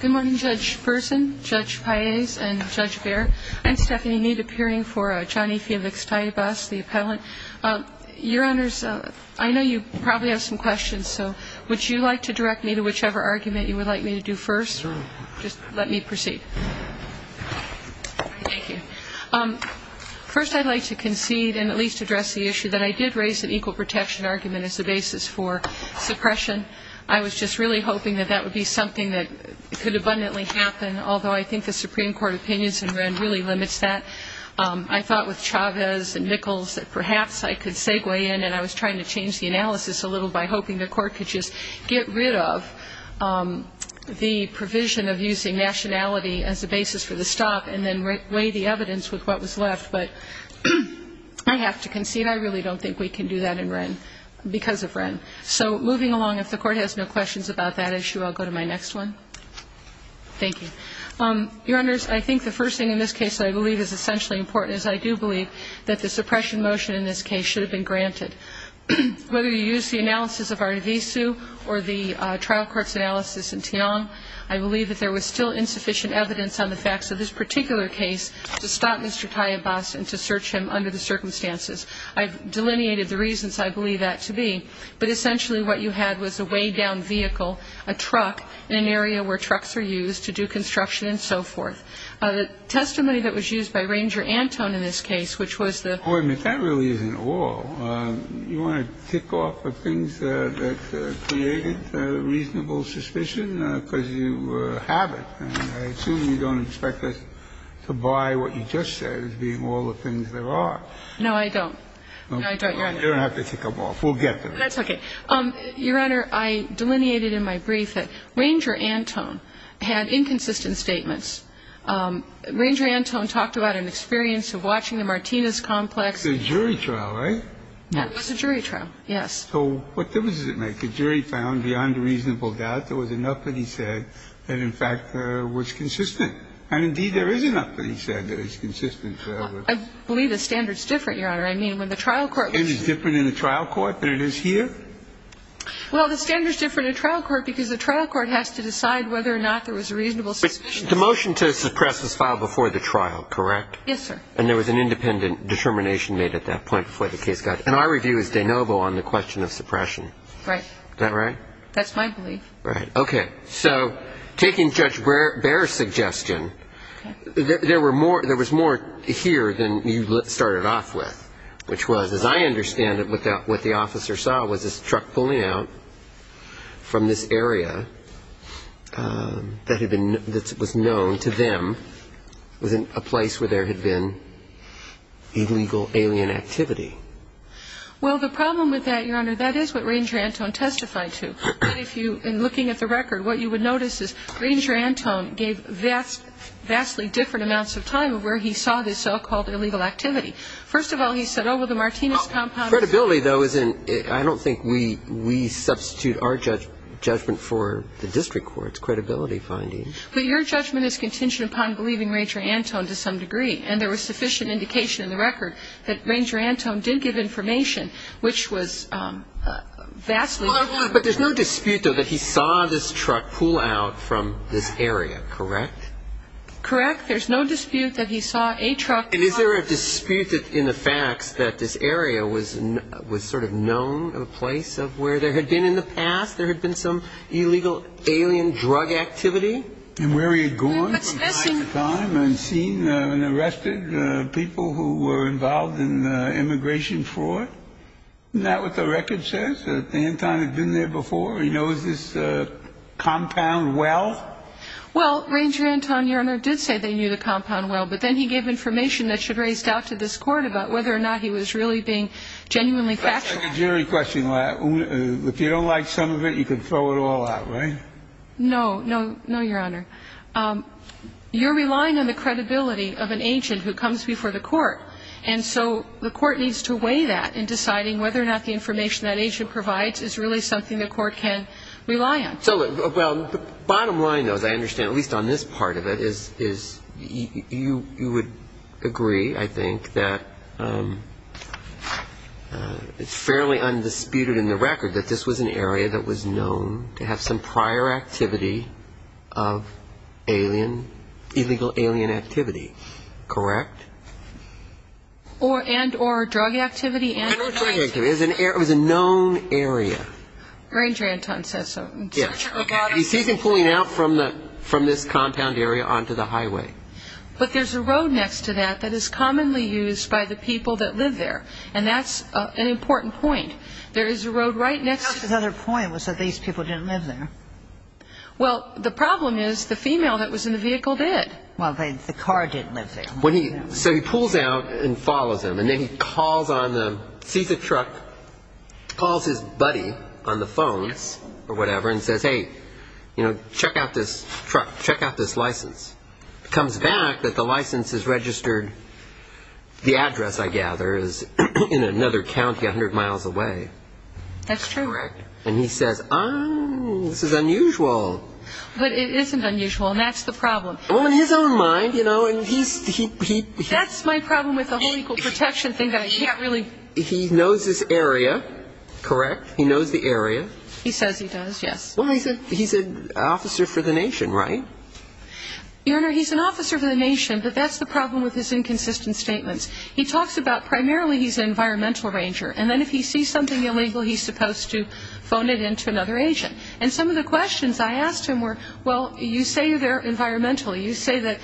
Good morning, Judge Persin, Judge Paez, and Judge Behr. I'm Stephanie Meade, appearing for Johnny Felix Tallabas, the appellant. Your Honors, I know you probably have some questions, so would you like to direct me to whichever argument you would like me to do first? Sure. Just let me proceed. Thank you. First, I'd like to concede and at least address the issue that I did raise an equal protection argument as the basis for suppression. I was just really hoping that that would be something that could abundantly happen, although I think the Supreme Court opinions in Wren really limits that. I thought with Chavez and Nichols that perhaps I could segue in, and I was trying to change the analysis a little by hoping the Court could just get rid of the provision of using nationality as the basis for the stop and then weigh the evidence with what was left, but I have to concede I really don't think we can do that in Wren because of Wren. So moving along, if the Court has no questions about that issue, I'll go to my next one. Thank you. Your Honors, I think the first thing in this case that I believe is essentially important is I do believe that the suppression motion in this case should have been granted. Whether you use the analysis of Artevisu or the trial court's analysis in Tian, I believe that there was still insufficient evidence on the facts of this particular case to stop Mr. Tallabas and to search him under the circumstances. I've delineated the reasons I believe that to be, but essentially what you had was a weighed-down vehicle, a truck in an area where trucks are used to do construction and so forth. The testimony that was used by Ranger Anton in this case, which was the ---- Wait a minute. That really isn't all. You want to tick off the things that created reasonable suspicion because you have it, and I assume you don't expect us to buy what you just said as being all the things there are. No, I don't. No, I don't, Your Honor. You don't have to tick them off. We'll get them. That's okay. Your Honor, I delineated in my brief that Ranger Anton had inconsistent statements. Ranger Anton talked about an experience of watching the Martinez complex. It's a jury trial, right? Yes. It was a jury trial, yes. So what difference does it make? The jury found beyond a reasonable doubt there was enough that he said that, in fact, was consistent. And, indeed, there is enough that he said that is consistent. I believe the standard is different, Your Honor. I mean, when the trial court was ---- It is different in the trial court than it is here? Well, the standard is different in the trial court because the trial court has to decide whether or not there was a reasonable suspicion. But the motion to suppress was filed before the trial, correct? Yes, sir. And there was an independent determination made at that point before the case got ---- And our review is de novo on the question of suppression. Right. Is that right? That's my belief. Right. Okay. So taking Judge Baer's suggestion, there were more ---- there was more here than you started off with, which was, as I understand it, what the officer saw was this truck pulling out from this area that had been ---- that was known to them was a place where there had been illegal alien activity. Well, the problem with that, Your Honor, that is what Ranger Antone testified to. And if you, in looking at the record, what you would notice is Ranger Antone gave vastly different amounts of time of where he saw this so-called illegal activity. First of all, he said, oh, well, the Martinez compound ---- Credibility, though, isn't ---- I don't think we substitute our judgment for the district court's credibility findings. But your judgment is contingent upon believing Ranger Antone to some degree. And there was sufficient indication in the record that Ranger Antone did give information which was vastly different. But there's no dispute, though, that he saw this truck pull out from this area, correct? Correct. There's no dispute that he saw a truck ---- And is there a dispute in the facts that this area was sort of known, a place of where there had been in the past there had been some illegal alien drug activity? And where he had gone from time to time and seen and arrested people who were involved in immigration fraud. Isn't that what the record says, that Antone had been there before? He knows this compound well? Well, Ranger Antone, Your Honor, did say they knew the compound well. But then he gave information that should have raised doubt to this Court about whether or not he was really being genuinely factual. I have a jury question. If you don't like some of it, you can throw it all out, right? No, no, no, Your Honor. You're relying on the credibility of an agent who comes before the Court. And so the Court needs to weigh that in deciding whether or not the information that agent provides is really something the Court can rely on. So, well, the bottom line, though, as I understand, at least on this part of it, is you would agree, I think, that it's fairly undisputed in the record that this was an area that was known to have some prior activity of alien, illegal alien activity, correct? And or drug activity? And or drug activity. It was a known area. Ranger Antone says so. He sees him pulling out from this compound area onto the highway. But there's a road next to that that is commonly used by the people that live there. And that's an important point. There is a road right next to it. The House's other point was that these people didn't live there. Well, the problem is the female that was in the vehicle did. Well, the car didn't live there. Correct. So he pulls out and follows him. And then he calls on the truck, calls his buddy on the phone or whatever, and says, hey, check out this truck. Check out this license. Comes back that the license is registered. The address, I gather, is in another county 100 miles away. That's true. Correct. And he says, oh, this is unusual. But it isn't unusual, and that's the problem. Well, in his own mind, you know, and he's ‑‑ That's my problem with the whole equal protection thing that I can't really ‑‑ He knows this area. Correct? He knows the area. He says he does, yes. Well, he's an officer for the nation, right? Your Honor, he's an officer for the nation, but that's the problem with his inconsistent statements. He talks about primarily he's an environmental ranger. And then if he sees something illegal, he's supposed to phone it in to another agent. And some of the questions I asked him were, well, you say they're environmental. You say that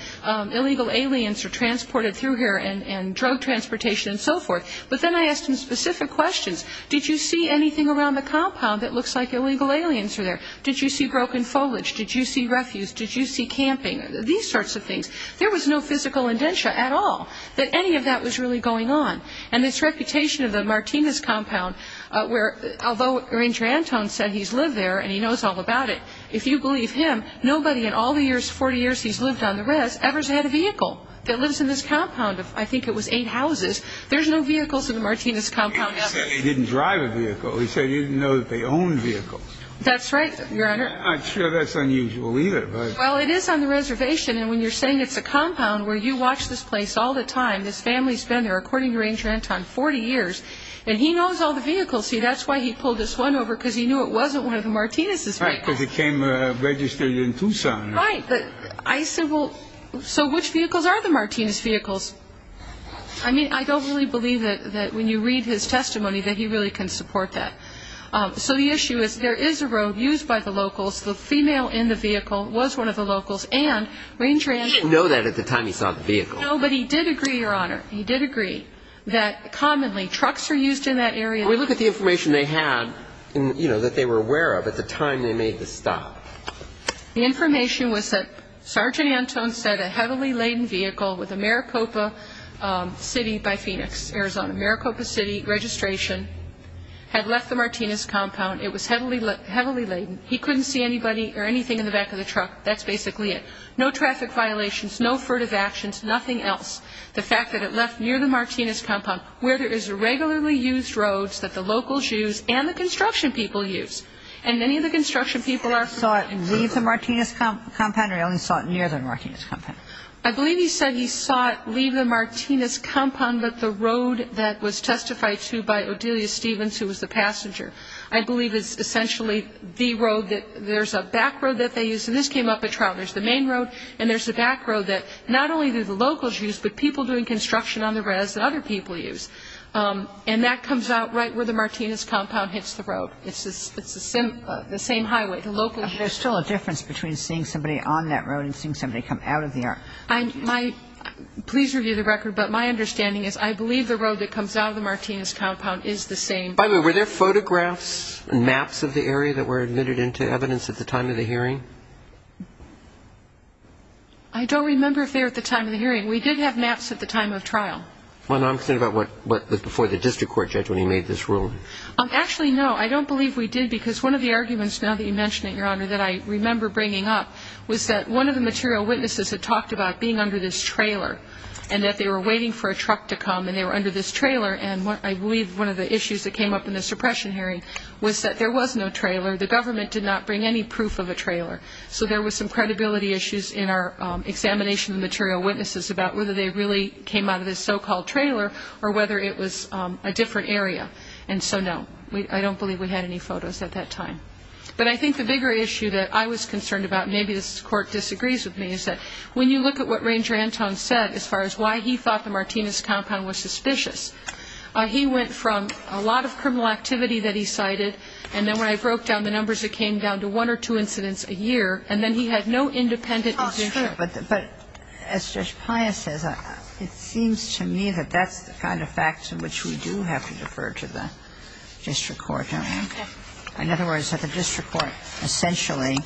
illegal aliens are transported through here and drug transportation and so forth. But then I asked him specific questions. Did you see anything around the compound that looks like illegal aliens are there? Did you see broken foliage? Did you see refuse? Did you see camping? These sorts of things. There was no physical indenture at all that any of that was really going on. And this reputation of the Martinez compound, where although Ranger Anton said he's lived there and he knows all about it, if you believe him, nobody in all the years, 40 years he's lived on the rest, ever has had a vehicle that lives in this compound of I think it was eight houses. There's no vehicles in the Martinez compound ever. He said he didn't drive a vehicle. He said he didn't know that they owned vehicles. That's right, Your Honor. I'm sure that's unusual either. Well, it is on the reservation. And when you're saying it's a compound where you watch this place all the time, this family's been there, according to Ranger Anton, 40 years. And he knows all the vehicles. See, that's why he pulled this one over, because he knew it wasn't one of the Martinez's vehicles. Right, because it came registered in Tucson. Right. But I said, well, so which vehicles are the Martinez vehicles? I mean, I don't really believe that when you read his testimony that he really can support that. So the issue is there is a road used by the locals. The female in the vehicle was one of the locals. And Ranger Anton – He didn't know that at the time he saw the vehicle. No, but he did agree, Your Honor. He did agree that commonly trucks are used in that area. Well, look at the information they had, you know, that they were aware of at the time they made the stop. The information was that Sergeant Anton said a heavily laden vehicle with a Maricopa City by Phoenix, Arizona, Maricopa City registration, had left the Martinez compound. It was heavily laden. He couldn't see anybody or anything in the back of the truck. That's basically it. No traffic violations, no furtive actions, nothing else. The fact that it left near the Martinez compound where there is regularly used roads that the locals use and the construction people use. And many of the construction people are – So he saw it leave the Martinez compound or he only saw it near the Martinez compound? I believe he said he saw it leave the Martinez compound, but the road that was testified to by Odelia Stevens, who was the passenger, I believe is essentially the road that – there's a back road that they use. So this came up at trial. There's the main road and there's a back road that not only do the locals use, but people doing construction on the res that other people use. And that comes out right where the Martinez compound hits the road. It's the same highway. The locals use it. There's still a difference between seeing somebody on that road and seeing somebody come out of there. Please review the record, but my understanding is I believe the road that comes out of the Martinez compound is the same. By the way, were there photographs and maps of the area that were admitted into evidence at the time of the hearing? I don't remember if they were at the time of the hearing. We did have maps at the time of trial. Well, I'm concerned about what was before the district court judge when he made this ruling. Actually, no. I don't believe we did because one of the arguments, now that you mention it, Your Honor, that I remember bringing up was that one of the material witnesses had talked about being under this trailer and that they were waiting for a truck to come and they were under this trailer. And I believe one of the issues that came up in the suppression hearing was that there was no trailer. The government did not bring any proof of a trailer. So there was some credibility issues in our examination of the material witnesses about whether they really came out of this so-called trailer or whether it was a different area. And so, no, I don't believe we had any photos at that time. But I think the bigger issue that I was concerned about, and maybe this Court disagrees with me, is that when you look at what Ranger Anton said as far as why he thought the Martinez compound was suspicious, he went from a lot of criminal activity that he cited, and then when I broke down the numbers it came down to one or two incidents a year, and then he had no independent position. Oh, that's true. But as Judge Pius says, it seems to me that that's the kind of facts in which we do have to defer to the district court. Okay. In other words, that the district court essentially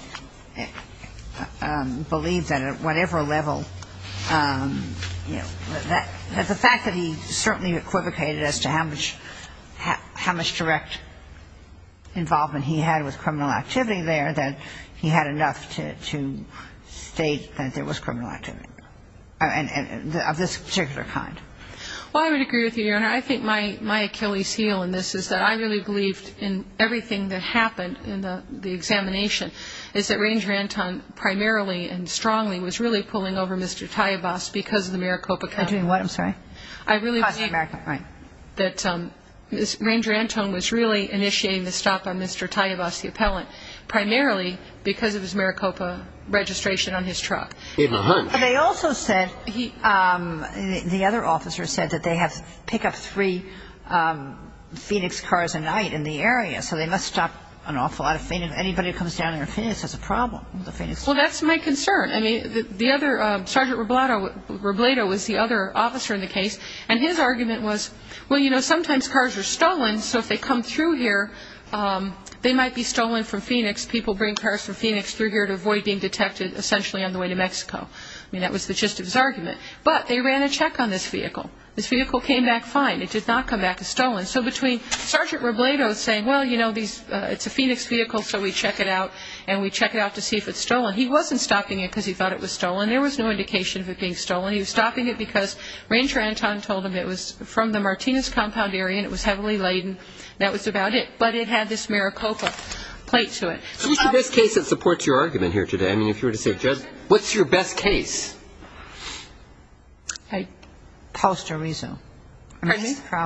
believed that at whatever level, you know, that the fact that he certainly equivocated as to how much direct involvement he had with criminal activity there, that he had enough to state that there was criminal activity of this particular kind. Well, I would agree with you, Your Honor. I think my Achilles heel in this is that I really believed in everything that happened in the examination, is that Ranger Anton primarily and strongly was really pulling over Mr. Tayabas because of the Maricopa County. I'm doing what? I'm sorry? I really believe that Ranger Anton was really initiating the stop on Mr. Tayabas, the appellant, primarily because of his Maricopa registration on his truck. But they also said, the other officer said that they have to pick up three Phoenix cars a night in the area, so they must stop an awful lot of Phoenix. Anybody who comes down here in Phoenix has a problem. Well, that's my concern. I mean, the other, Sergeant Robledo was the other officer in the case, and his argument was, well, you know, sometimes cars are stolen, so if they come through here, they might be stolen from Phoenix. People bring cars from Phoenix through here to avoid being detected essentially on the way to Mexico. I mean, that was the gist of his argument. But they ran a check on this vehicle. This vehicle came back fine. It did not come back as stolen. So between Sergeant Robledo saying, well, you know, it's a Phoenix vehicle, so we check it out, and we check it out to see if it's stolen. He wasn't stopping it because he thought it was stolen. There was no indication of it being stolen. He was stopping it because Ranger Anton told him it was from the Martinez compound area and it was heavily laden, and that was about it. But it had this Maricopa plate to it. So this is the case that supports your argument here today. I mean, if you were to say, Judge, what's your best case? Post a reso. Pardon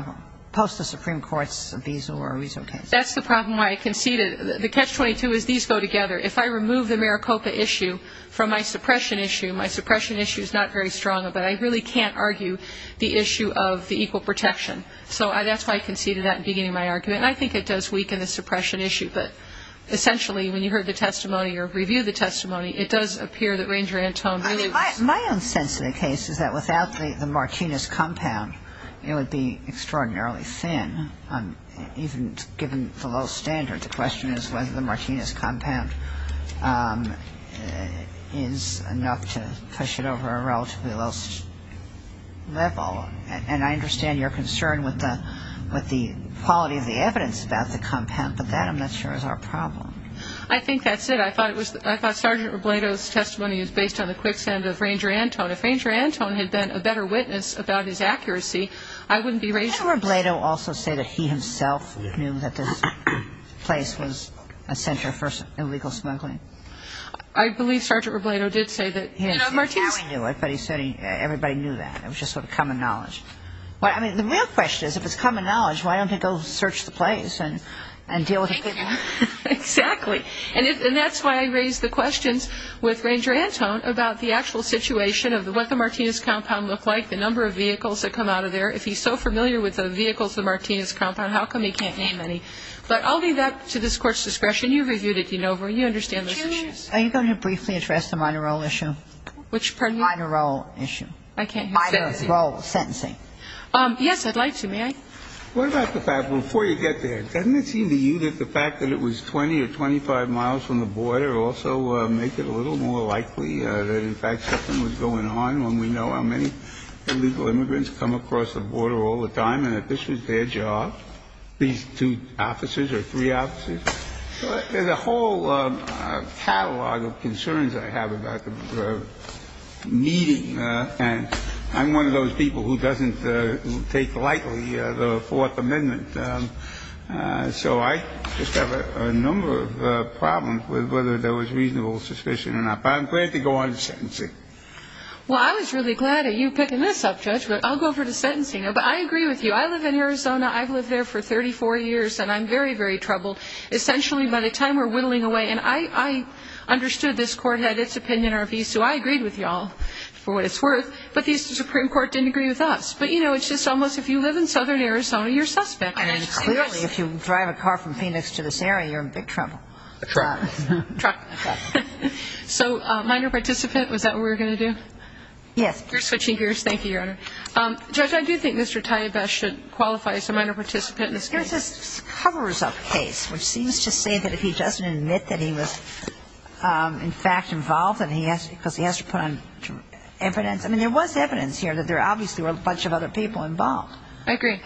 me? Post a Supreme Court's reso or a reso case. That's the problem why I conceded. The catch-22 is these go together. If I remove the Maricopa issue from my suppression issue, my suppression issue is not very strong, but I really can't argue the issue of the equal protection. So that's why I conceded that in beginning of my argument. And I think it does weaken the suppression issue. But essentially, when you heard the testimony or reviewed the testimony, it does appear that Ranger Anton really was. My own sense of the case is that without the Martinez compound, it would be extraordinarily thin, even given the low standards. The question is whether the Martinez compound is enough to push it over a relatively low level. And I understand your concern with the quality of the evidence about the compound, but that I'm not sure is our problem. I think that's it. I thought Sergeant Robledo's testimony is based on the quicksand of Ranger Anton. If Ranger Anton had been a better witness about his accuracy, I wouldn't be raising this. Didn't Robledo also say that he himself knew that this place was a center for illegal smuggling? I believe Sergeant Robledo did say that he had seen it. You know, Martinez knew it, but he said everybody knew that. It was just sort of common knowledge. I mean, the real question is, if it's common knowledge, why don't they go search the place and deal with it? Exactly. And that's why I raised the questions with Ranger Anton about the actual situation of what the Martinez compound looked like, the number of vehicles that come out of there. If he's so familiar with the vehicles of the Martinez compound, how come he can't name any? But I'll leave that to this Court's discretion. You've reviewed it, you know. You understand those issues. Are you going to briefly address the minor role issue? Which part of you? Minor role issue. I can't hear you. Minor role. Sentencing. Yes, I'd like to. May I? What about the fact, before you get there, doesn't it seem to you that the fact that it was 20 or 25 miles from the border also make it a little more likely that, in fact, something was going on when we know how many illegal immigrants come across the border all the time and that this was their job, these two officers or three officers? There's a whole catalog of concerns I have about the meeting, and I'm one of those people who doesn't take lightly the Fourth Amendment. So I just have a number of problems with whether there was reasonable suspicion or not. But I'm glad to go on to sentencing. Well, I was really glad of you picking this up, Judge, but I'll go over to sentencing. But I agree with you. I live in Arizona. I've lived there for 34 years, and I'm very, very troubled. Essentially, by the time we're whittling away, and I understood this Court had its opinion, our view, so I agreed with you all for what it's worth. But the Supreme Court didn't agree with us. But, you know, it's just almost if you live in southern Arizona, you're a suspect. Clearly, if you drive a car from Phoenix to this area, you're in big trouble. A truck. A truck. A truck. So minor participant, was that what we were going to do? Yes. You're switching gears. Thank you, Your Honor. Judge, I do think Mr. Taibash should qualify as a minor participant in this case. There's this cover-up case, which seems to say that if he doesn't admit that he was, in fact, involved and he has to put on evidence. I mean, there was evidence here that there obviously were a bunch of other people involved. I agree.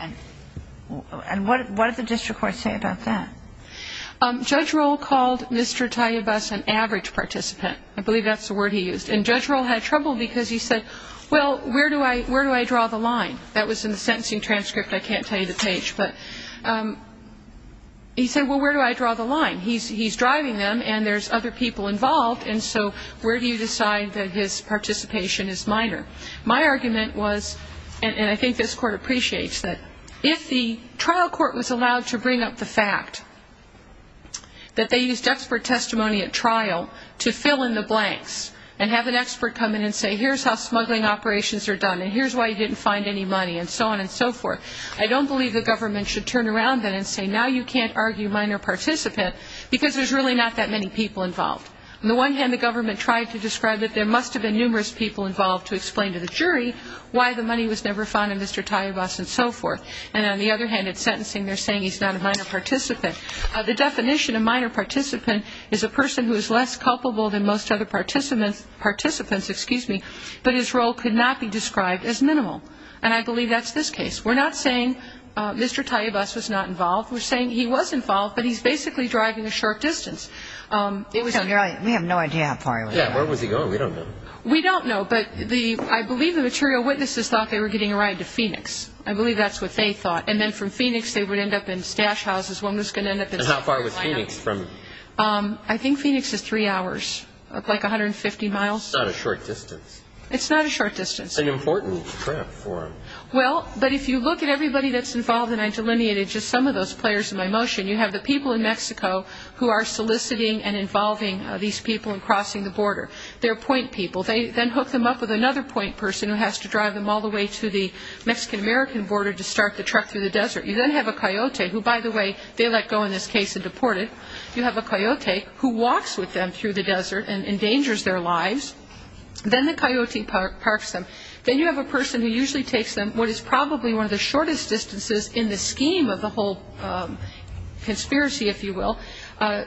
And what did the district court say about that? Judge Rohl called Mr. Taibash an average participant. I believe that's the word he used. And Judge Rohl had trouble because he said, well, where do I draw the line? That was in the sentencing transcript. I can't tell you the page. But he said, well, where do I draw the line? He's driving them, and there's other people involved. And so where do you decide that his participation is minor? My argument was, and I think this Court appreciates, that if the trial court was allowed to bring up the fact that they used expert testimony at trial to fill in the blanks and have an expert come in and say, here's how smuggling operations are done and here's why you didn't find any money and so on and so forth, I don't believe the government should turn around then and say, now you can't argue minor participant because there's really not that many people involved. On the one hand, the government tried to describe that there must have been numerous people involved to explain to the jury why the money was never found in Mr. Taibash and so forth. And on the other hand, in sentencing they're saying he's not a minor participant. The definition of minor participant is a person who is less culpable than most other participants, but his role could not be described as minimal. And I believe that's this case. We're not saying Mr. Taibash was not involved. We're saying he was involved, but he's basically driving a short distance. We have no idea how far he went. Yeah, where was he going? We don't know. We don't know, but I believe the material witnesses thought they were getting a ride to Phoenix. I believe that's what they thought. And then from Phoenix they would end up in stash houses. One was going to end up in South Carolina. And how far was Phoenix from? I think Phoenix is three hours, like 150 miles. It's not a short distance. It's not a short distance. An important trip for him. Well, but if you look at everybody that's involved, and I delineated just some of those players in my motion, you have the people in Mexico who are soliciting and involving these people in crossing the border. They're point people. They then hook them up with another point person who has to drive them all the way to the Mexican-American border to start the truck through the desert. You then have a coyote, who, by the way, they let go in this case and deported. You have a coyote who walks with them through the desert and endangers their lives. Then the coyote parks them. Then you have a person who usually takes them what is probably one of the shortest distances in the scheme of the whole conspiracy, if you will,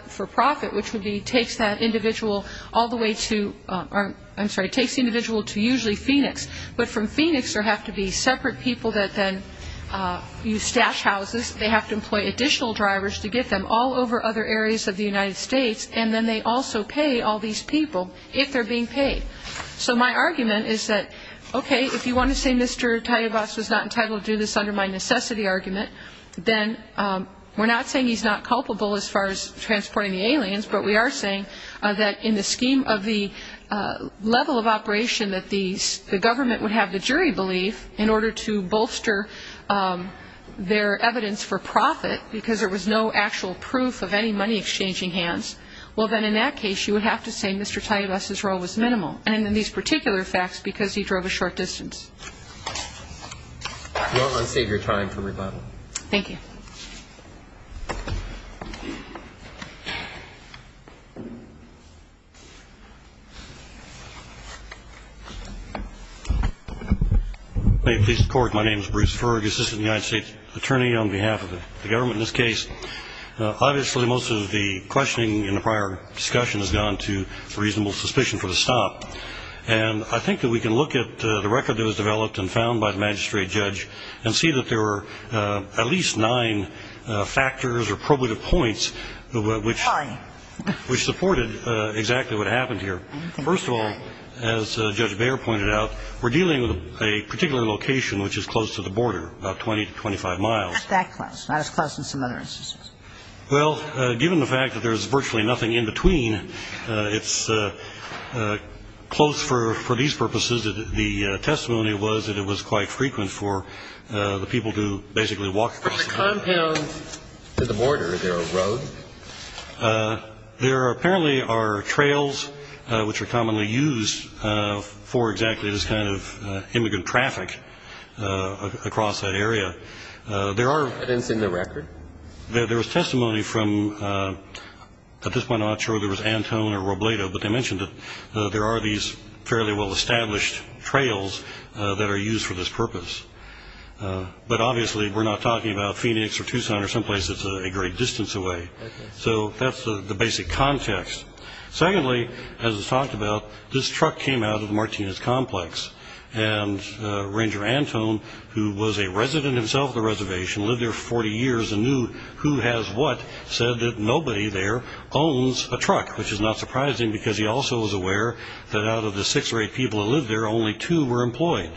for profit, which would be takes that individual all the way to or, I'm sorry, takes the individual to usually Phoenix. But from Phoenix there have to be separate people that then use stash houses. They have to employ additional drivers to get them all over other areas of the United States. And then they also pay all these people if they're being paid. So my argument is that, okay, if you want to say Mr. Tayabas was not entitled to do this under my necessity argument, then we're not saying he's not culpable as far as transporting the aliens, but we are saying that in the scheme of the level of operation that the government would have the jury believe in order to bolster their evidence for profit because there was no actual proof of any money exchanging hands, well, then in that case you would have to say Mr. Tayabas' role was minimal. And in these particular facts, because he drove a short distance. TAYABAS. Your Honor, I'll save your time for rebuttal. MS. TAYABAS. Thank you. MR. FERGUSON. May it please the Court, my name is Bruce Ferguson, Assistant to the United States Attorney. On behalf of the government in this case, obviously most of the questioning in the prior discussion has gone to reasonable suspicion for the stop. And I think that we can look at the record that was developed and found by the magistrate judge and see that there were at least nine factors or probative points which supported exactly what happened here. First of all, as Judge Baer pointed out, we're dealing with a particular location which is close to the border, about 20 to 25 miles. MS. TAYABAS. Well, given the fact that there's virtually nothing in between, it's close for these purposes. The testimony was that it was quite frequent for the people to basically walk across. MR. FERGUSON. From the compound to the border, is there a road? MR. FERGUSON. There apparently are trails which are commonly used for exactly this kind of immigrant traffic across that area. MR. TAYABAS. There are. FERGUSON. And it's in the record? MR. TAYABAS. There was testimony from, at this point I'm not sure if it was Antone or Robledo, but they mentioned that there are these fairly well-established trails that are used for this purpose. But obviously we're not talking about Phoenix or Tucson or someplace that's a great distance away. So that's the basic context. Secondly, as was talked about, this truck came out of the Martinez complex, and Ranger Antone, who was a resident himself of the reservation, lived there for 40 years and knew who has what, said that nobody there owns a truck, which is not surprising because he also was aware that out of the six or eight people who lived there, only two were employed.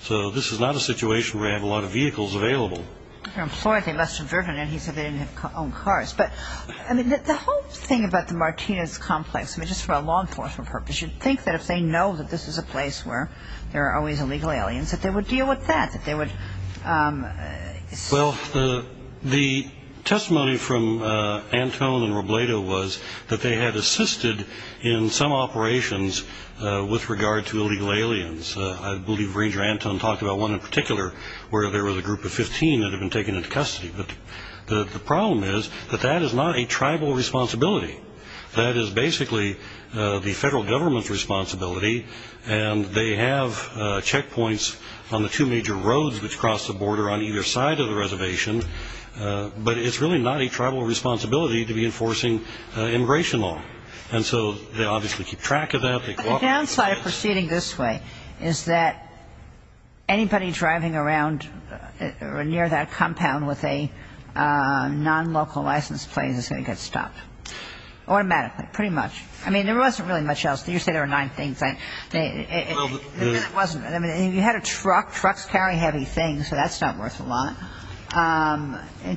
So this is not a situation where they have a lot of vehicles available. MS. TAYABAS. They're employed. They must have driven it. He said they didn't own cars. But the whole thing about the Martinez complex, just for a law enforcement purpose, they should think that if they know that this is a place where there are always illegal aliens, that they would deal with that, that they would assist. MR. WARREN. Well, the testimony from Antone and Robledo was that they had assisted in some operations with regard to illegal aliens. I believe Ranger Antone talked about one in particular where there was a group of 15 that had been taken into custody. But the problem is that that is not a tribal responsibility. That is basically the federal government's responsibility, and they have checkpoints on the two major roads which cross the border on either side of the reservation. But it's really not a tribal responsibility to be enforcing immigration law. And so they obviously keep track of that. MS. TAYABAS. The downside of proceeding this way is that anybody driving around near that compound with a non-local license plate is going to get stopped automatically, pretty much. I mean, there wasn't really much else. You say there were nine things. I mean, you had a truck. Trucks carry heavy things, so that's not worth a lot.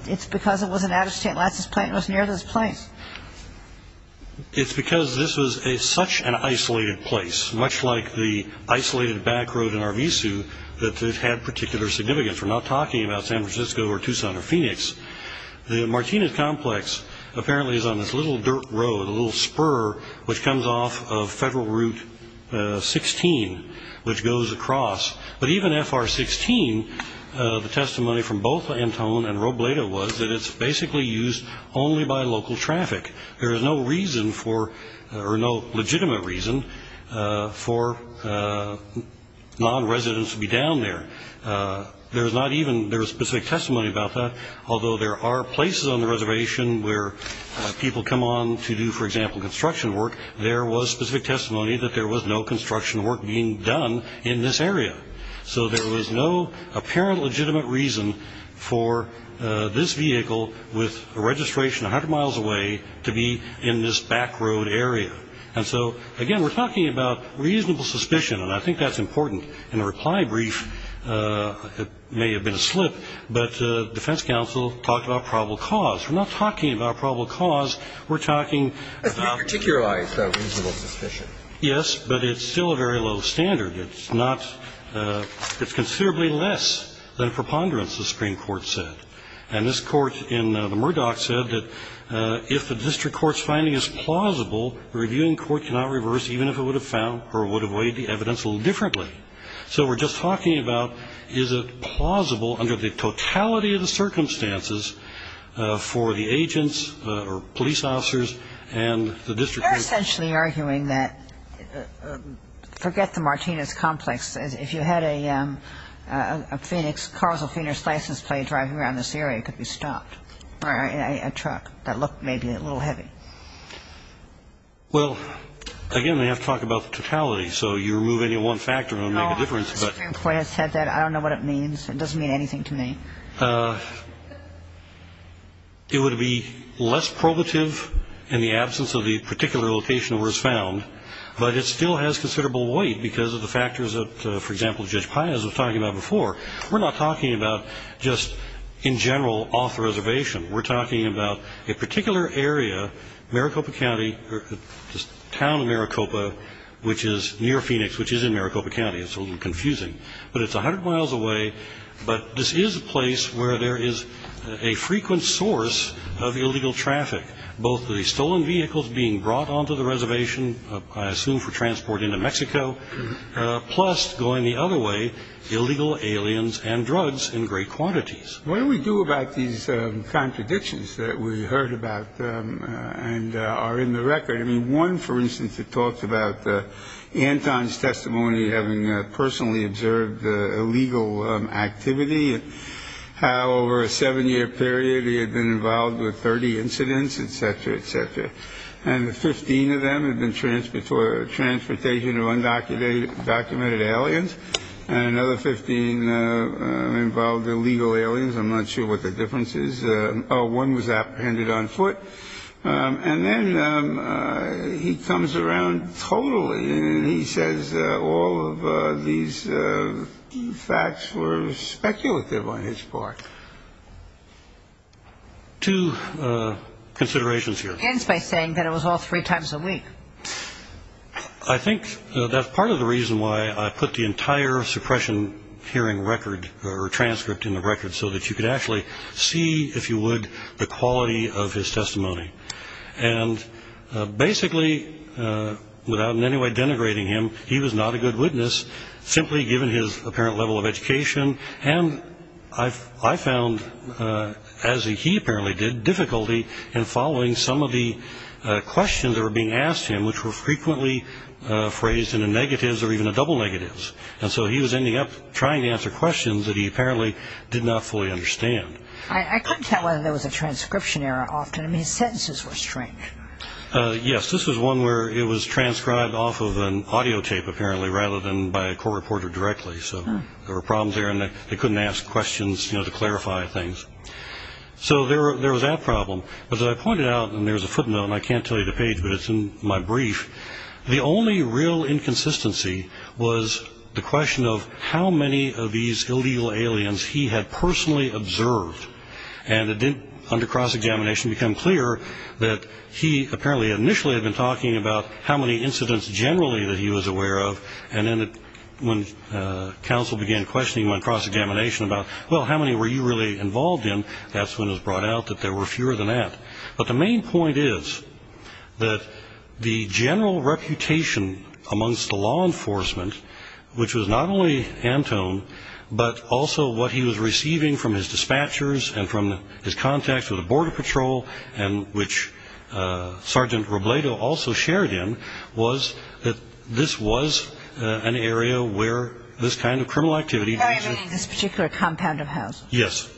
It's because it was an out-of-state license plate and it was near this place. MR. WARREN. It's because this was such an isolated place, much like the isolated back road in Arvizu, that it had particular significance. We're not talking about San Francisco or Tucson or Phoenix. The Martinez Complex apparently is on this little dirt road, a little spur, which comes off of Federal Route 16, which goes across. But even FR-16, the testimony from both Antone and Robledo was that it's basically used only by local traffic. There is no legitimate reason for non-residents to be down there. There is not even specific testimony about that, although there are places on the reservation where people come on to do, for example, construction work. There was specific testimony that there was no construction work being done in this area. So there was no apparent legitimate reason for this vehicle, with a registration 100 miles away, to be in this back road area. And so, again, we're talking about reasonable suspicion, and I think that's important. In a reply brief, it may have been a slip, but defense counsel talked about probable cause. We're not talking about probable cause. We're talking about reasonable suspicion. Yes, but it's still a very low standard. It's not – it's considerably less than a preponderance, the Supreme Court said. And this Court in the Murdoch said that if the district court's finding is plausible, the reviewing court cannot reverse, even if it would have found or would have weighed the evidence a little differently. So we're just talking about is it plausible under the totality of the circumstances for the agents or police officers and the district court. You're essentially arguing that – forget the Martinez complex. If you had a Phoenix, a car with a Phoenix license plate driving around this area, it could be stopped, a truck that looked maybe a little heavy. Well, again, we have to talk about the totality, so you remove any one factor and it would make a difference. No, the Supreme Court has said that. I don't know what it means. It doesn't mean anything to me. It would be less probative in the absence of the particular location where it was found, but it still has considerable weight because of the factors that, for example, Judge Pines was talking about before. We're not talking about just in general off the reservation. We're talking about a particular area, Maricopa County, the town of Maricopa, which is near Phoenix, which is in Maricopa County. It's a little confusing, but it's 100 miles away, but this is a place where there is a frequent source of illegal traffic, both the stolen vehicles being brought onto the reservation, I assume for transport into Mexico, plus, going the other way, illegal aliens and drugs in great quantities. What do we do about these contradictions that we heard about and are in the record? I mean, one, for instance, it talks about Anton's testimony, having personally observed illegal activity, and how over a seven-year period he had been involved with 30 incidents, et cetera, et cetera. And the 15 of them had been transportation of undocumented aliens, and another 15 involved illegal aliens. I'm not sure what the difference is. One was apprehended on foot. And then he comes around totally and he says all of these facts were speculative on his part. Two considerations here. He ends by saying that it was all three times a week. I think that's part of the reason why I put the entire suppression hearing record or transcript in the record, so that you could actually see, if you would, the quality of his testimony. And basically, without in any way denigrating him, he was not a good witness, simply given his apparent level of education. And I found, as he apparently did, difficulty in following some of the questions that were being asked to him, which were frequently phrased into negatives or even double negatives. And so he was ending up trying to answer questions that he apparently did not fully understand. I couldn't tell whether there was a transcription error often. I mean, his sentences were strange. Yes, this was one where it was transcribed off of an audio tape, apparently, rather than by a court reporter directly. So there were problems there, and they couldn't ask questions to clarify things. So there was that problem. But as I pointed out, and there's a footnote, and I can't tell you the page, but it's in my brief, the only real inconsistency was the question of how many of these illegal aliens he had personally observed. And it didn't, under cross-examination, become clear that he apparently initially had been talking about how many incidents generally that he was aware of. And then when counsel began questioning him under cross-examination about, well, how many were you really involved in, that's when it was brought out that there were fewer than that. But the main point is that the general reputation amongst the law enforcement, which was not only Antone, but also what he was receiving from his dispatchers and from his contacts with the Border Patrol, and which Sergeant Robledo also shared in, was that this was an area where this kind of criminal activity existed. This particular compound of house? Yes.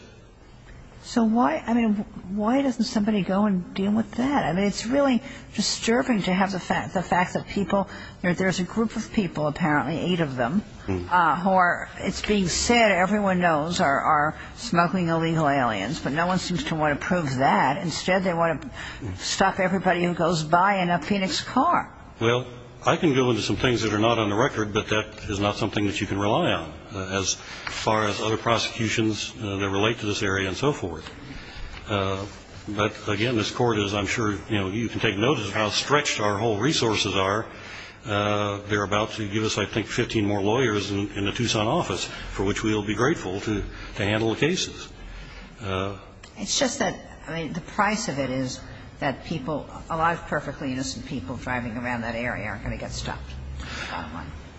So why, I mean, why doesn't somebody go and deal with that? I mean, it's really disturbing to have the fact that people, there's a group of people, apparently, eight of them, who are, it's being said everyone knows are smuggling illegal aliens, but no one seems to want to prove that. Instead, they want to stop everybody who goes by in a Phoenix car. Well, I can go into some things that are not on the record, but that is not something that you can rely on, as far as other prosecutions that relate to this area and so forth. But, again, this Court is, I'm sure, you know, you can take notice of how stretched our whole resources are. They're about to give us, I think, 15 more lawyers in the Tucson office, for which we'll be grateful to handle the cases. It's just that, I mean, the price of it is that people, a lot of perfectly innocent people driving around that area are going to get stopped.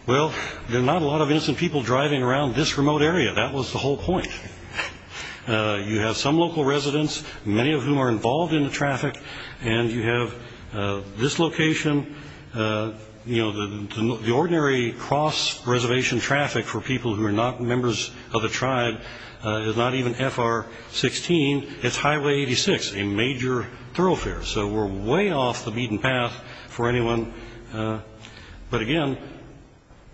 Well, there are not a lot of innocent people driving around this remote area. That was the whole point. You have some local residents, many of whom are involved in the traffic, and you have this location. You know, the ordinary cross-reservation traffic for people who are not members of the tribe is not even FR-16, it's Highway 86, a major thoroughfare. So we're way off the beaten path for anyone. But, again,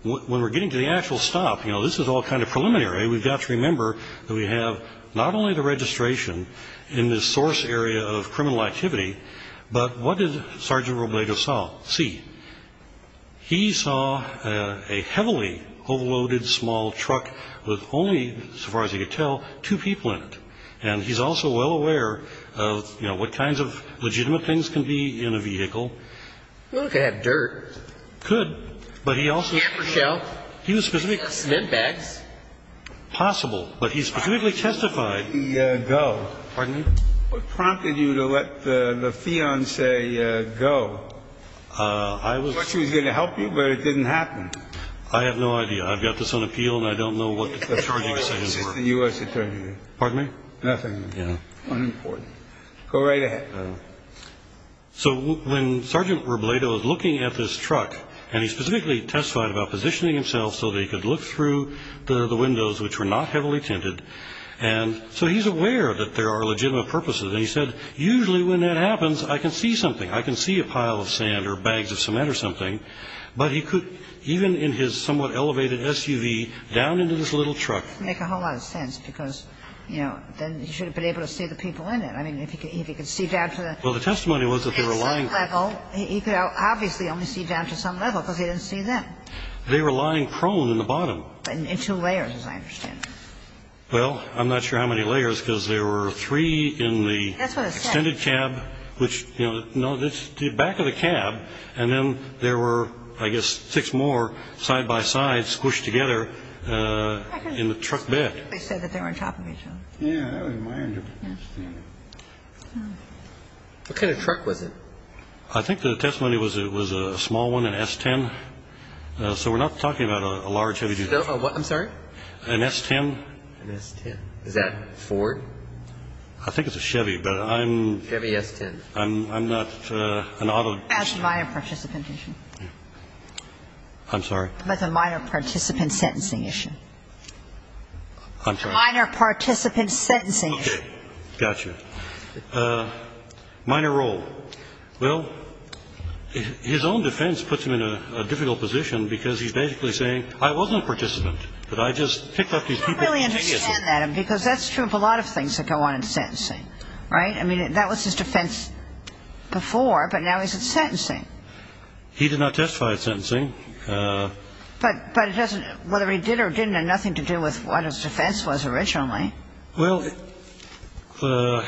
when we're getting to the actual stop, you know, this is all kind of preliminary. We've got to remember that we have not only the registration in this source area of criminal activity, but what did Sergeant Robledo see? He saw a heavily overloaded small truck with only, so far as he could tell, two people in it. And he's also well aware of, you know, what kinds of legitimate things can be in a vehicle. Well, it could have dirt. Could. But he also ---- Yeah, for sure. He was specifically ---- Cement bags. Possible. But he specifically testified ---- Where did he go? Pardon me? What prompted you to let the fiancé go? I was ---- I thought she was going to help you, but it didn't happen. I have no idea. I've got this on appeal, and I don't know what the charging stations were. It's the U.S. Attorney. Pardon me? Nothing. Yeah. Unimportant. Go right ahead. So when Sergeant Robledo was looking at this truck, and he specifically testified about positioning himself so that he could look through the windows, which were not heavily tinted, and so he's aware that there are legitimate purposes. And he said, usually when that happens, I can see something. I can see a pile of sand or bags of cement or something. But he could, even in his somewhat elevated SUV, down into this little truck ---- It doesn't make a whole lot of sense because, you know, then he should have been able to see the people in it. I mean, if he could see down to the ---- Well, the testimony was that they were lying ---- At some level. He could obviously only see down to some level because he didn't see them. They were lying prone in the bottom. In two layers, as I understand it. Well, I'm not sure how many layers because there were three in the ---- That's what it said. Extended cab, which, you know, no, it's the back of the cab, and then there were, I guess, six more side by side, squished together in the truck bed. They said that they were on top of each other. Yeah, that was my understanding. What kind of truck was it? I think the testimony was it was a small one, an S-10. So we're not talking about a large heavy duty truck. A what? I'm sorry? An S-10. An S-10. Is that Ford? I think it's a Chevy, but I'm ---- Chevy S-10. I'm not an auto ---- That's a minor participant issue. I'm sorry? That's a minor participant sentencing issue. I'm sorry? Minor participant sentencing issue. Okay. Got you. Minor role. Well, his own defense puts him in a difficult position because he's basically saying, I wasn't a participant, but I just picked up these people ---- I don't really understand that because that's true of a lot of things that go on in sentencing, right? I mean, that was his defense before, but now he's in sentencing. He did not testify at sentencing. But it doesn't ---- whether he did or didn't had nothing to do with what his defense was originally. Well, the ----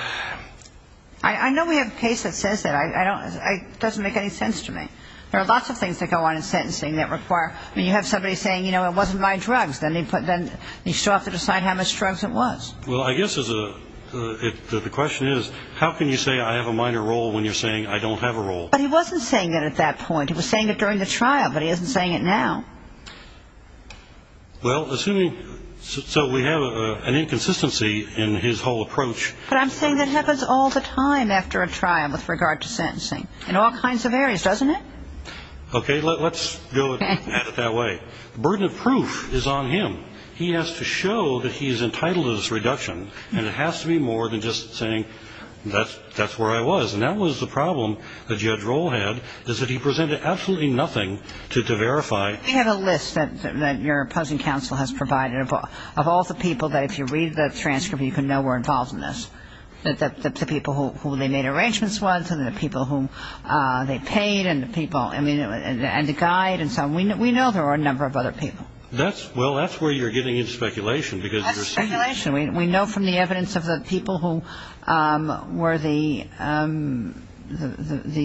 I know we have a case that says that. It doesn't make any sense to me. There are lots of things that go on in sentencing that require ---- I mean, you have somebody saying, you know, it wasn't my drugs. Then he put them ---- he still has to decide how much drugs it was. Well, I guess there's a ---- the question is, how can you say I have a minor role when you're saying I don't have a role? But he wasn't saying that at that point. He was saying it during the trial, but he isn't saying it now. Well, assuming ---- so we have an inconsistency in his whole approach. But I'm saying that happens all the time after a trial with regard to sentencing, in all kinds of areas, doesn't it? Okay. Let's go at it that way. The burden of proof is on him. He has to show that he's entitled to this reduction. And it has to be more than just saying that's where I was. And that was the problem that Judge Rohl had, is that he presented absolutely nothing to verify. We have a list that your opposing counsel has provided of all the people that, if you read the transcript, you can know were involved in this, the people who they made arrangements with and the people who they paid and the people ---- and the guide and so on. We know there are a number of other people. Well, that's where you're getting into speculation because you're saying ---- That's speculation. We know from the evidence of the people who were the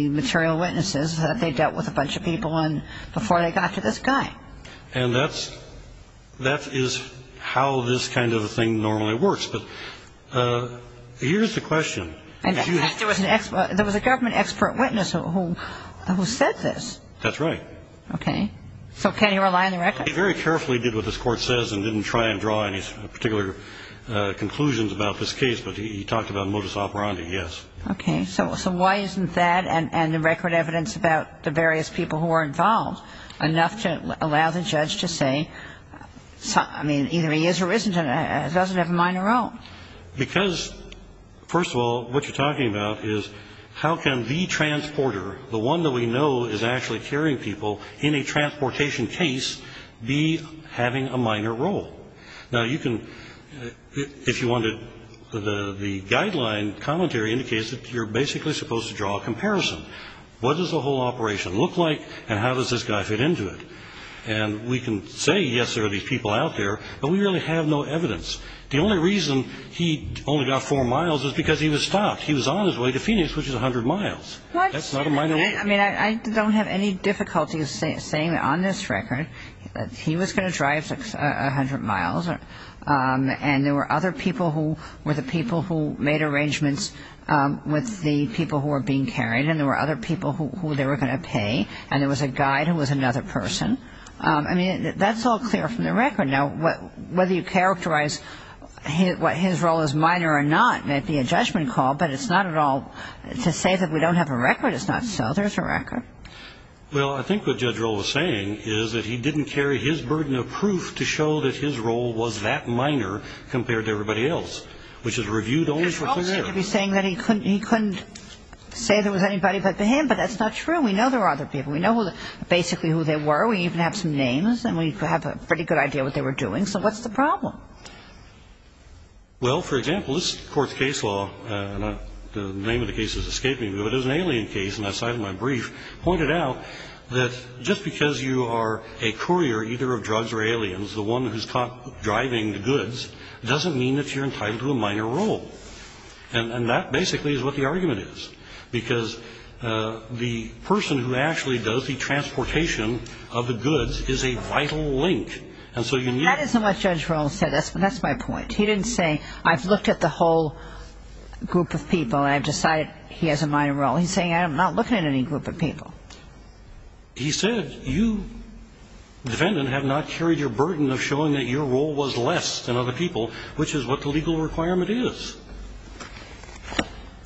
material witnesses that they dealt with a bunch of people before they got to this guy. And that is how this kind of a thing normally works. But here's the question. There was a government expert witness who said this. That's right. Okay. So can he rely on the record? He very carefully did what this Court says and didn't try and draw any particular conclusions about this case. But he talked about modus operandi, yes. Okay. So why isn't that and the record evidence about the various people who were involved enough to allow the judge to say, I mean, either he is or isn't, doesn't have a minor role? Because, first of all, what you're talking about is how can the transporter, the one that we know is actually carrying people in a transportation case, be having a minor role? Now, you can, if you wanted, the guideline commentary indicates that you're basically supposed to draw a comparison. What does the whole operation look like and how does this guy fit into it? And we can say, yes, there are these people out there, but we really have no evidence. The only reason he only got four miles is because he was stopped. He was on his way to Phoenix, which is 100 miles. What? That's not a minor role. I mean, I don't have any difficulty saying on this record that he was going to drive 100 miles and there were other people who were the people who made arrangements with the people who were being carried and there were other people who they were going to pay and there was a guide who was another person. I mean, that's all clear from the record. Now, whether you characterize what his role is minor or not may be a judgment call, but it's not at all to say that we don't have a record. It's not so. There's a record. Well, I think what Judge Rohl was saying is that he didn't carry his burden of proof to show that his role was that minor compared to everybody else, which is reviewed only for clear error. Judge Rohl seemed to be saying that he couldn't say there was anybody but him, but that's not true. We know there are other people. We know basically who they were. We even have some names and we have a pretty good idea what they were doing. So what's the problem? Well, for example, this Court's case law, and the name of the case is escaping me, but it was an alien case, and I cited in my brief, pointed out that just because you are a courier either of drugs or aliens, the one who's caught driving the goods, doesn't mean that you're entitled to a minor role. And that basically is what the argument is, because the person who actually does the transportation of the goods is a vital link. That isn't what Judge Rohl said. That's my point. He didn't say, I've looked at the whole group of people and I've decided he has a minor role. He's saying, I'm not looking at any group of people. He said, you, defendant, have not carried your burden of showing that your role was less than other people, which is what the legal requirement is.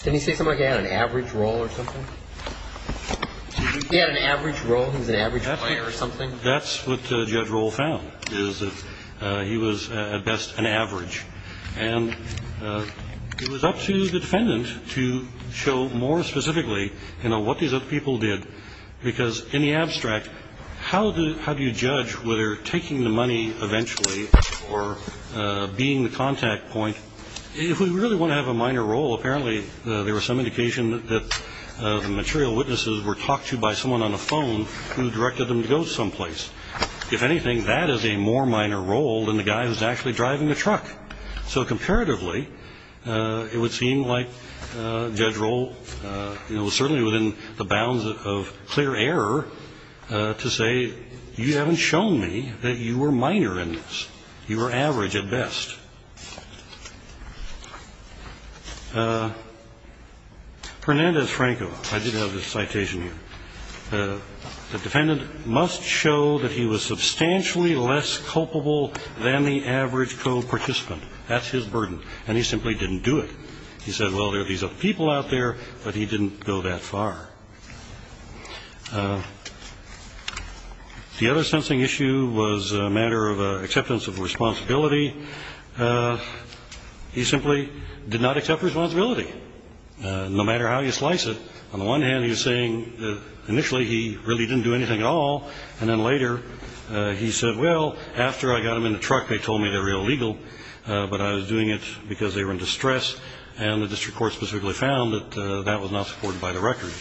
Didn't he say somebody had an average role or something? He had an average role? He was an average player or something? That's what Judge Rohl found, is that he was at best an average. And it was up to the defendant to show more specifically what these other people did, because in the abstract, how do you judge whether taking the money eventually or being the contact point, if we really want to have a minor role, apparently there was some indication that the material witnesses were talked to by someone on the phone who directed them to go someplace. If anything, that is a more minor role than the guy who's actually driving the truck. So comparatively, it would seem like Judge Rohl was certainly within the bounds of clear error to say, you haven't shown me that you were minor in this. You were average at best. Hernandez-Franco, I did have this citation here. The defendant must show that he was substantially less culpable than the average co-participant. That's his burden. And he simply didn't do it. He said, well, there are these other people out there, but he didn't go that far. The other sensing issue was a matter of acceptance of responsibility. He simply did not accept responsibility, no matter how you slice it. On the one hand, he was saying initially he really didn't do anything at all, and then later he said, well, after I got him in the truck, they told me they were illegal, but I was doing it because they were in distress, and the district court specifically found that that was not supported by the record.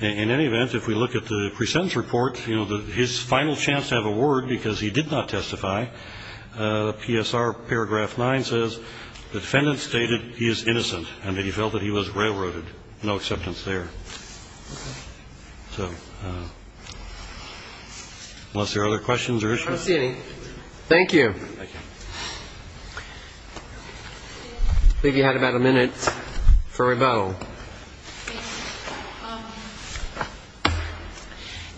In any event, if we look at the pre-sentence report, his final chance to have a word because he did not testify, PSR paragraph 9 says, the defendant stated he is innocent and that he felt that he was railroaded. No acceptance there. So unless there are other questions or issues. I don't see any. Thank you. I believe you had about a minute for rebuttal.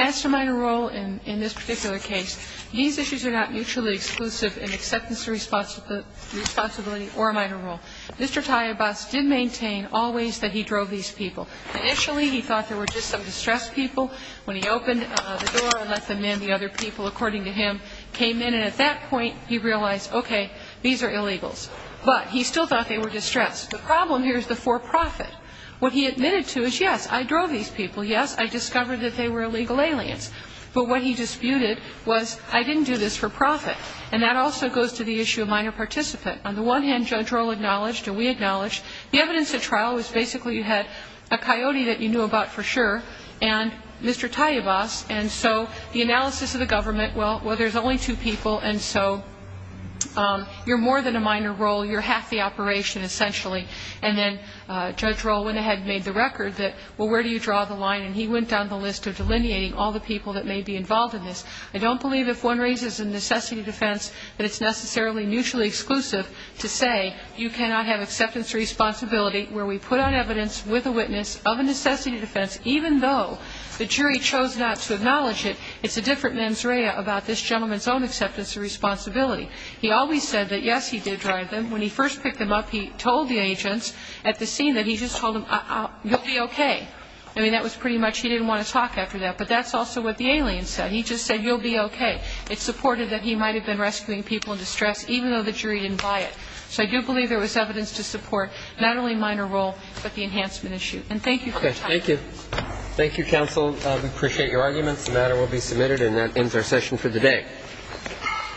As to minor role in this particular case, these issues are not mutually exclusive in acceptance of responsibility or minor role. Mr. Tayabas did maintain always that he drove these people. Initially he thought they were just some distressed people. When he opened the door and let them in, the other people, according to him, came in and at that point he realized, okay, these are illegals. But he still thought they were distressed. The problem here is the for profit. What he admitted to is, yes, I drove these people. Yes, I discovered that they were illegal aliens. But what he disputed was I didn't do this for profit. And that also goes to the issue of minor participant. On the one hand, Judge Rohl acknowledged, and we acknowledged, the evidence at trial was basically you had a coyote that you knew about for sure and Mr. Tayabas, and so the analysis of the government, well, there's only two people, and so you're more than a minor role. You're half the operation essentially. And then Judge Rohl went ahead and made the record that, well, where do you draw the line? And he went down the list of delineating all the people that may be involved in this. I don't believe if one raises a necessity defense that it's necessarily mutually exclusive to say you cannot have acceptance of responsibility where we put on evidence with a witness of a necessity defense, even though the jury chose not to acknowledge it. It's a different mens rea about this gentleman's own acceptance of responsibility. He always said that, yes, he did drive them. When he first picked them up, he told the agents at the scene that he just told them, you'll be okay. I mean, that was pretty much he didn't want to talk after that. But that's also what the alien said. He just said, you'll be okay. It's supported that he might have been rescuing people in distress, even though the jury didn't buy it. So I do believe there was evidence to support not only minor role, but the enhancement issue. And thank you for your time. Thank you. Thank you, counsel. We appreciate your arguments. The matter will be submitted, and that ends our session for the day.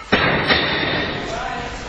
Thank you.